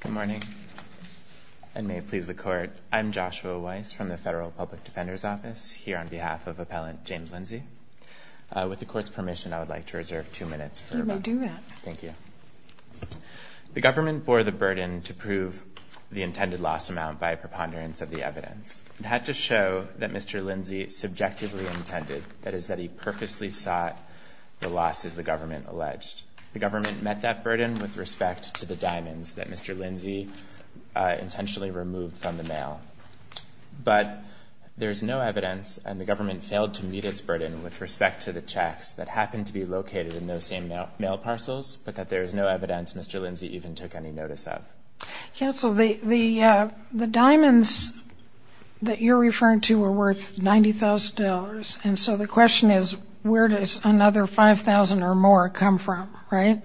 Good morning, and may it please the Court, I'm Joshua Weiss from the Federal Public Defender's Office here on behalf of Appellant James Lindsey. With the Court's permission, I would like to reserve two minutes for rebuttal. You may do that. Thank you. The government bore the burden to prove the intended loss amount by a preponderance of the evidence. It had to show that Mr. Lindsey subjectively intended, that is, that he purposely sought the loss, as the government alleged. The government met that burden with respect to the diamonds that Mr. Lindsey intentionally removed from the mail. But there is no evidence, and the government failed to meet its burden with respect to the checks that happened to be located in those same mail parcels, but that there is no evidence Mr. Lindsey even took any notice of. Counsel, the diamonds that you're referring to were worth $90,000, and so the question is where does another $5,000 or more come from, right?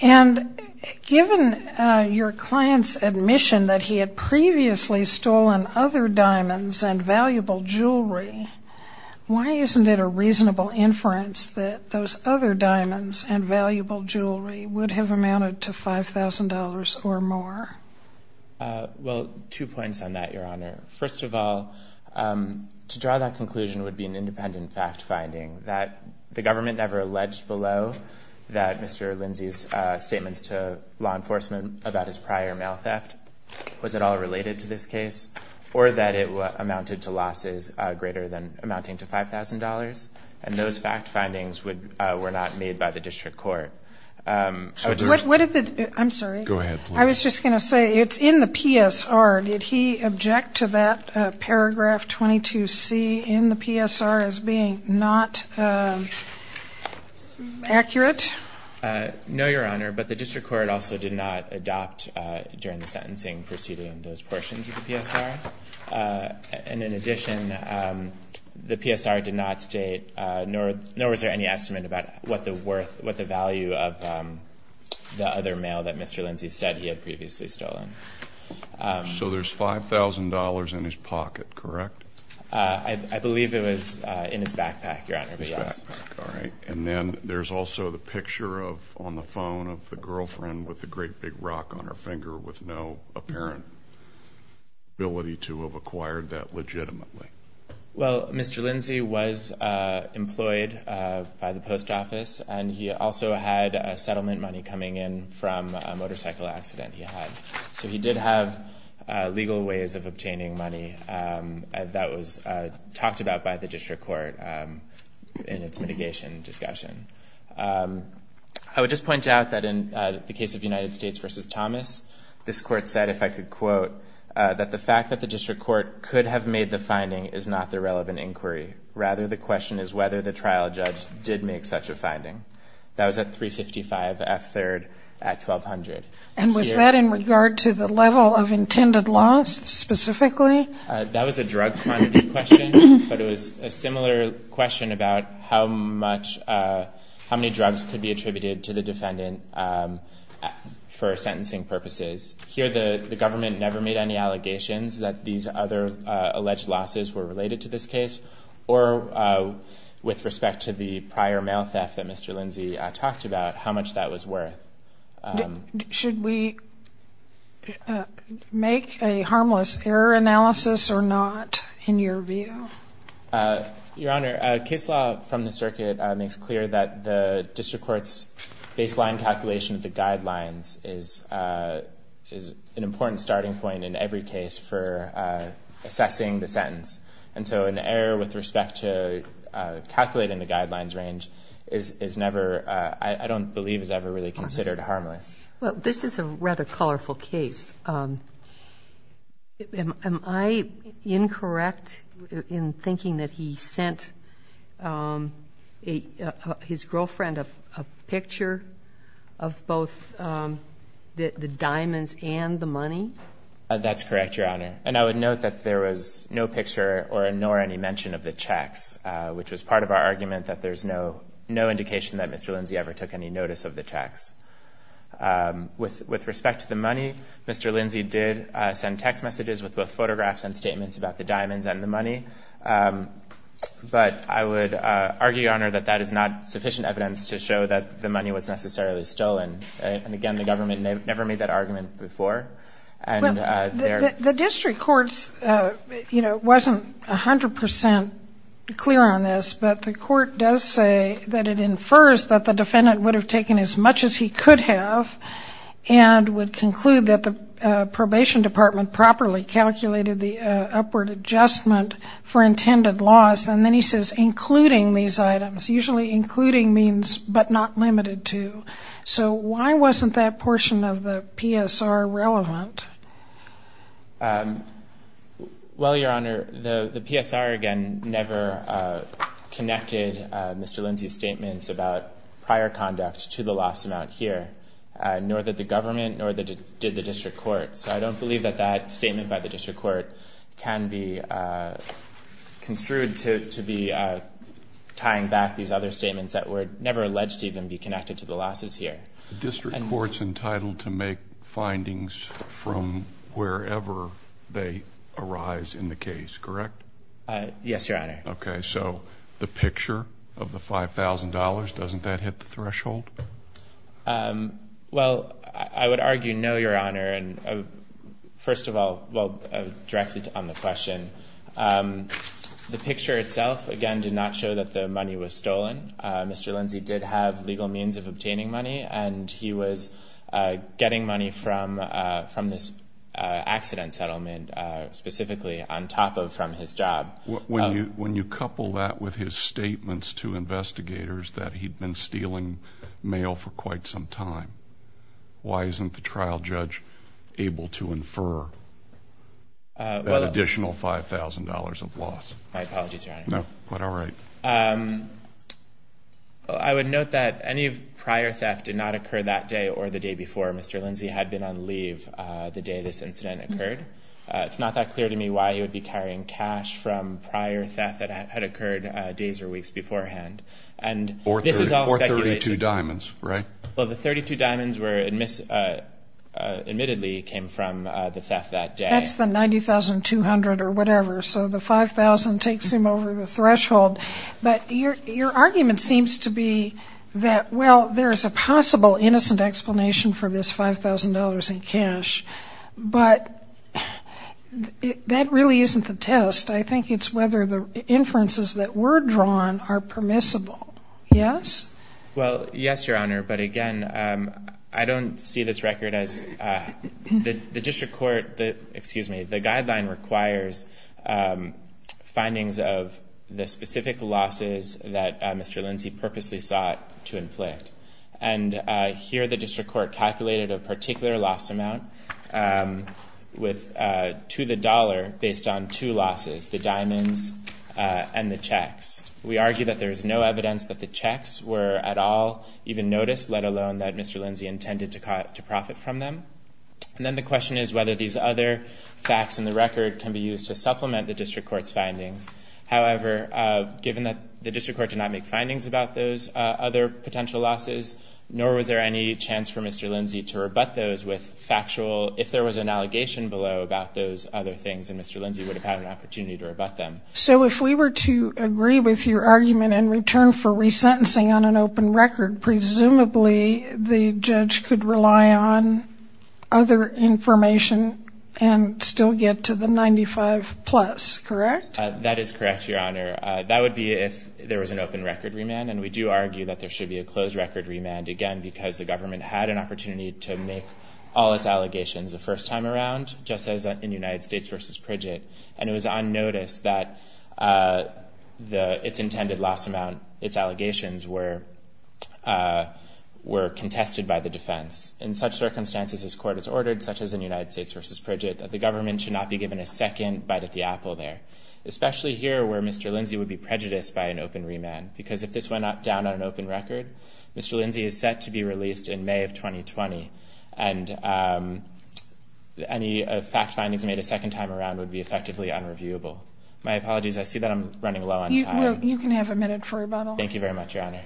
And given your client's admission that he had previously stolen other diamonds and valuable jewelry, why isn't it a reasonable inference that those other diamonds and valuable jewelry would have amounted to $5,000 or more? First of all, to draw that conclusion would be an independent fact-finding that the government never alleged below that Mr. Lindsey's statements to law enforcement about his prior mail theft was at all related to this case, or that it amounted to losses greater than amounting to $5,000, and those fact-findings were not made by the district court. I'm sorry. Go ahead, please. I was just going to say, it's in the PSR. Did he object to that paragraph 22C in the PSR as being not accurate? No, Your Honor, but the district court also did not adopt during the sentencing proceeding those portions of the PSR, and in addition, the PSR did not state nor was there any estimate about what the value of the other mail that Mr. Lindsey said he had previously stolen. So there's $5,000 in his pocket, correct? I believe it was in his backpack, Your Honor, but yes. His backpack, all right. And then there's also the picture of, on the phone, of the girlfriend with the great big rock on her finger, with no apparent ability to have acquired that legitimately. Well, Mr. Lindsey was employed by the post office, and he also had settlement money coming in from a motorcycle accident he had. So he did have legal ways of obtaining money that was talked about by the district court in its mitigation discussion. I would just point out that in the case of United States v. Thomas, this court said, if I could quote, that the fact that the district court could have made the finding is not the relevant inquiry, rather the question is whether the trial judge did make such a finding. That was at 355 F. 3rd at 1200. And was that in regard to the level of intended loss specifically? That was a drug quantity question, but it was a similar question about how many drugs could be attributed to the defendant for sentencing purposes. Here the government never made any allegations that these other alleged losses were related to this case, or with respect to the prior mail theft that Mr. Lindsey talked about, how much that was worth. Should we make a harmless error analysis or not, in your view? Your Honor, case law from the circuit makes clear that the district court's baseline calculation of the guidelines is an important starting point in every case for assessing the sentence. And so an error with respect to calculating the guidelines range is never, I don't believe is ever really considered harmless. Well, this is a rather colorful case. Am I incorrect in thinking that he sent his girlfriend a picture of both the diamonds and the money? That's correct, Your Honor. And I would note that there was no picture nor any mention of the checks, which was part of our argument that there's no indication that Mr. Lindsey ever took any notice of the checks. With respect to the money, Mr. Lindsey did send text messages with both photographs and statements about the diamonds and the money. But I would argue, Your Honor, that that is not sufficient evidence to show that the money was necessarily stolen. And again, the government never made that argument before. The district court's, you know, wasn't 100% clear on this, but the court does say that it infers that the defendant would have taken as much as he could have and would conclude that the probation department properly calculated the upward adjustment for intended loss. And then he says, including these items, usually including means, but not limited to. So why wasn't that portion of the PSR relevant? Well, Your Honor, the PSR, again, never connected Mr. Lindsey's statements about prior conduct to the loss amount here, nor did the government, nor did the district court. So I don't believe that that statement by the district court can be construed to be tying back these other statements that were never alleged to even be connected to the losses here. The district court's entitled to make findings from wherever they arise in the case, correct? Yes, Your Honor. Okay. So the picture of the $5,000, doesn't that hit the threshold? Well, I would argue, no, Your Honor, and first of all, well, directly on the question, the picture itself, again, did not show that the money was stolen. Mr. Lindsey did have legal means of obtaining money, and he was getting money from this accident settlement, specifically on top of, from his job. When you couple that with his statements to investigators that he'd been stealing mail for quite some time, why isn't the trial judge able to infer an additional $5,000 of loss? My apologies, Your Honor. No, but all right. I would note that any prior theft did not occur that day or the day before. Mr. Lindsey had been on leave the day this incident occurred. It's not that clear to me why he would be carrying cash from prior theft that had occurred days or weeks beforehand. And this is all speculation. For 32 diamonds, right? Well, the 32 diamonds were, admittedly, came from the theft that day. That's the $90,200 or whatever. So the $5,000 takes him over the threshold. But your argument seems to be that, well, there is a possible innocent explanation for this $5,000 in cash. But that really isn't the test. I think it's whether the inferences that were drawn are permissible. Yes? Well, yes, Your Honor. But again, I don't see this record as, the district court, excuse me, the guideline requires findings of the specific losses that Mr. Lindsey purposely sought to inflict. And here, the district court calculated a particular loss amount to the dollar based on two losses, the diamonds and the checks. We argue that there is no evidence that the checks were at all even noticed, let alone that Mr. Lindsey intended to profit from them. And then the question is whether these other facts in the record can be used to supplement the district court's findings. However, given that the district court did not make findings about those other potential losses, nor was there any chance for Mr. Lindsey to rebut those with factual, if there was an allegation below about those other things, then Mr. Lindsey would have had an opportunity to rebut them. So if we were to agree with your argument and return for resentencing on an open record, presumably the judge could rely on other information and still get to the 95 plus, correct? That is correct, Your Honor. That would be if there was an open record remand. And we do argue that there should be a closed record remand, again, because the government had an opportunity to make all its allegations the first time around, just as in United States versus Pridget. And it was unnoticed that its intended loss amount, its allegations, were contested by the defense. In such circumstances, as court has ordered, such as in United States versus Pridget, that the government should not be given a second bite at the apple there, especially here where Mr. Lindsey would be prejudiced by an open remand, because if this went down on an open record, Mr. Lindsey is set to be released in May of 2020. And any fact findings made a second time around would be effectively unreviewable. My apologies. I see that I'm running low on time. You can have a minute for rebuttal. Thank you very much, Your Honor.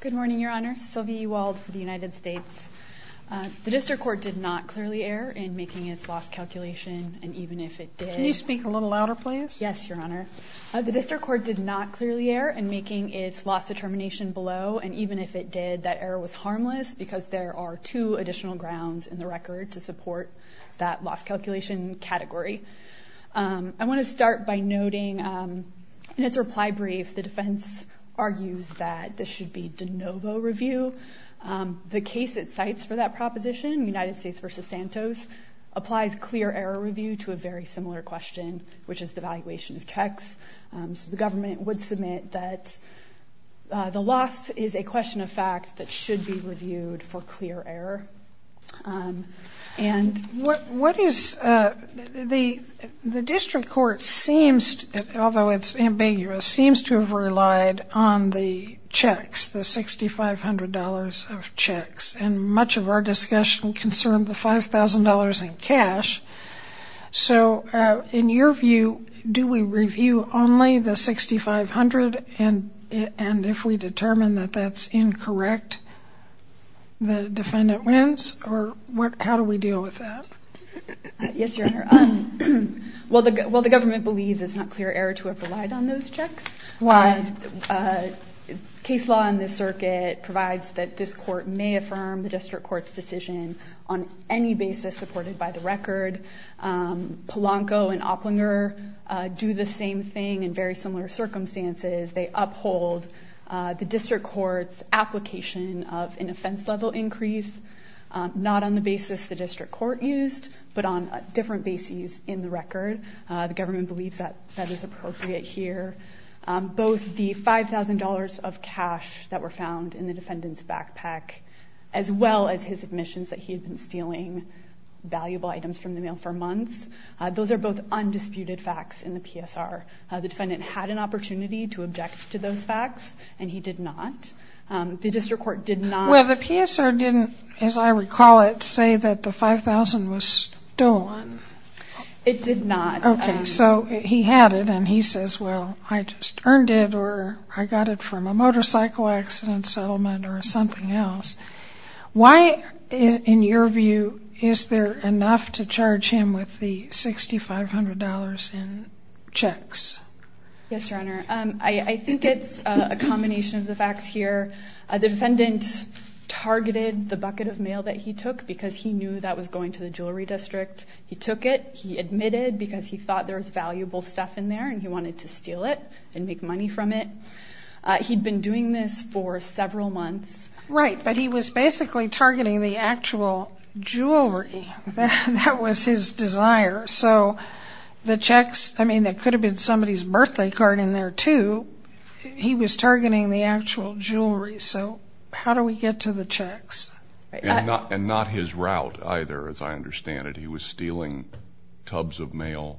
Good morning, Your Honor. Sylvie Ewald for the United States. The district court did not clearly err in making its loss calculation, and even if it did- Can you speak a little louder, please? Yes, Your Honor. The district court did not clearly err in making its loss determination below, and even if it did, that error was harmless because there are two additional grounds in the record to support that loss calculation category. I want to start by noting, in its reply brief, the defense argues that this should be de novo review. The case it cites for that proposition, United States versus Santos, applies clear error review to a very similar question, which is the valuation of checks. The government would submit that the loss is a question of fact that should be reviewed for clear error. And what is- The district court seems, although it's ambiguous, seems to have relied on the checks, the $6,500 of checks. And much of our discussion concerned the $5,000 in cash. So in your view, do we review only the $6,500, and if we determine that that's incorrect, the defendant wins, or how do we deal with that? Yes, Your Honor. While the government believes it's not clear error to have relied on those checks, case law in this circuit provides that this court may affirm the district court's decision on any basis supported by the record. Polanco and Opplinger do the same thing in very similar circumstances. They uphold the district court's application of an offense level increase, not on the basis the district court used, but on different bases in the record. The government believes that that is appropriate here. Both the $5,000 of cash that were found in the defendant's backpack, as well as his admissions that he had been stealing valuable items from the mail for months, those are both undisputed facts in the PSR. The defendant had an opportunity to object to those facts, and he did not. The district court did not- Well, the PSR didn't, as I recall it, say that the $5,000 was stolen. It did not. Okay, so he had it, and he says, well, I just earned it, or I got it from a motorcycle accident settlement or something else. Why, in your view, is there enough to charge him with the $6,500 in checks? Yes, Your Honor. I think it's a combination of the facts here. The defendant targeted the bucket of mail that he took because he knew that was going to the jewelry district. He took it. He admitted because he thought there was valuable stuff in there, and he wanted to steal it and make money from it. He'd been doing this for several months. Right, but he was basically targeting the actual jewelry. That was his desire, so the checks... I mean, there could have been somebody's birthday card in there, too. He was targeting the actual jewelry, so how do we get to the checks? Not his route, either, as I understand it. He was stealing tubs of mail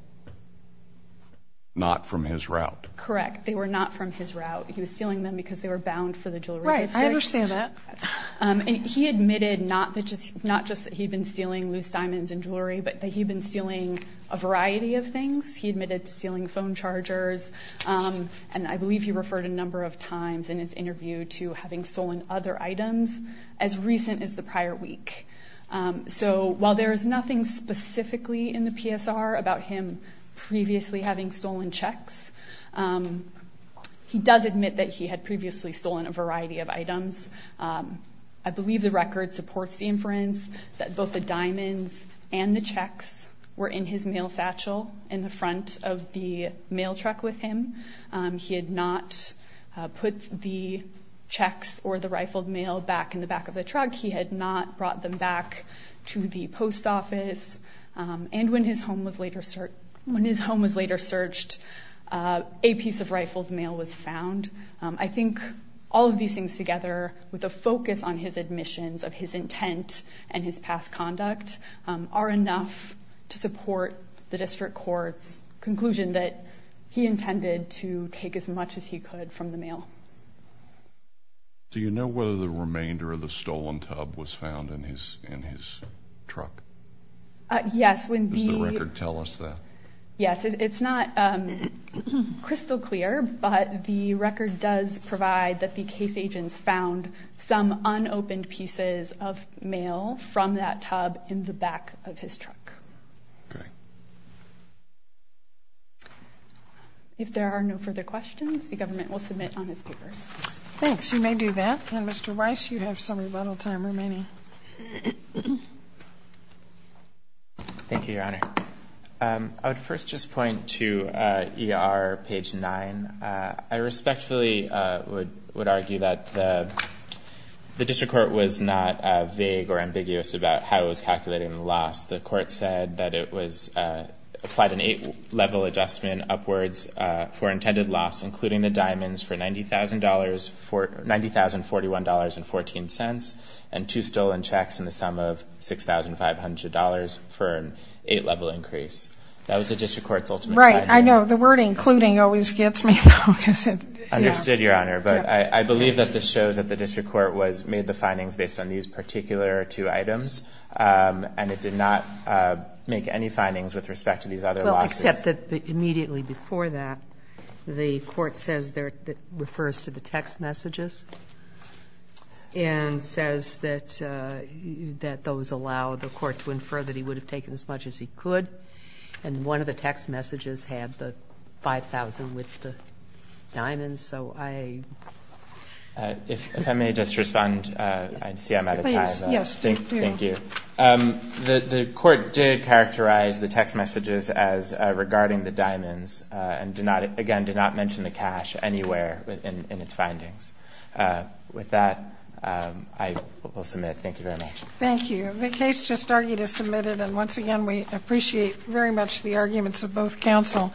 not from his route. Correct. They were not from his route. He was stealing them because they were bound for the jewelry district. Right. I understand that. He admitted not just that he'd been stealing loose diamonds and jewelry, but that he'd been stealing a variety of things. He admitted to stealing phone chargers, and I believe he referred a number of times in his interview to having stolen other items as recent as the prior week. While there is nothing specifically in the PSR about him previously having stolen checks, he does admit that he had previously stolen a variety of items. I believe the record supports the inference that both the diamonds and the checks were in his mail satchel in the front of the mail truck with him. He had not put the checks or the rifled mail back in the back of the truck. He had not brought them back to the post office. And when his home was later searched, a piece of rifled mail was found. I think all of these things together, with a focus on his admissions of his intent and his past conduct, are enough to support the district court's conclusion that he intended to take as much as he could from the mail. Do you know whether the remainder of the stolen tub was found in his truck? Yes, when the... Does the record tell us that? Yes, it's not crystal clear, but the record does provide that the case agents found some unopened pieces of mail from that tub in the back of his truck. Okay. If there are no further questions, the government will submit on its papers. Thanks. You may do that. And Mr. Weiss, you have some rebuttal time remaining. Thank you, Your Honor. I would first just point to ER page 9. I respectfully would argue that the district court was not vague or ambiguous about how it was calculating the loss. The court said that it applied an eight-level adjustment upwards for intended loss, including the diamonds, for $90,041.14 and two stolen checks in the sum of $6,500 for an eight-level increase. That was the district court's ultimate... Right. I know. The word including always gets me, though, because it's... Understood, Your Honor. But I believe that this shows that the district court made the findings based on these particular two items, and it did not make any findings with respect to these other losses. Well, except that immediately before that, the court says that it refers to the text messages and says that those allow the court to infer that he would have taken as much as he could. And one of the text messages had the $5,000 with the diamonds. So I... If I may just respond. I see I'm out of time. Yes. Thank you. The court did characterize the text messages as regarding the diamonds and did not, again, did not mention the cash anywhere in its findings. With that, I will submit. Thank you very much. Thank you. The case just argued is submitted, and once again, we appreciate very much the arguments of both counsel.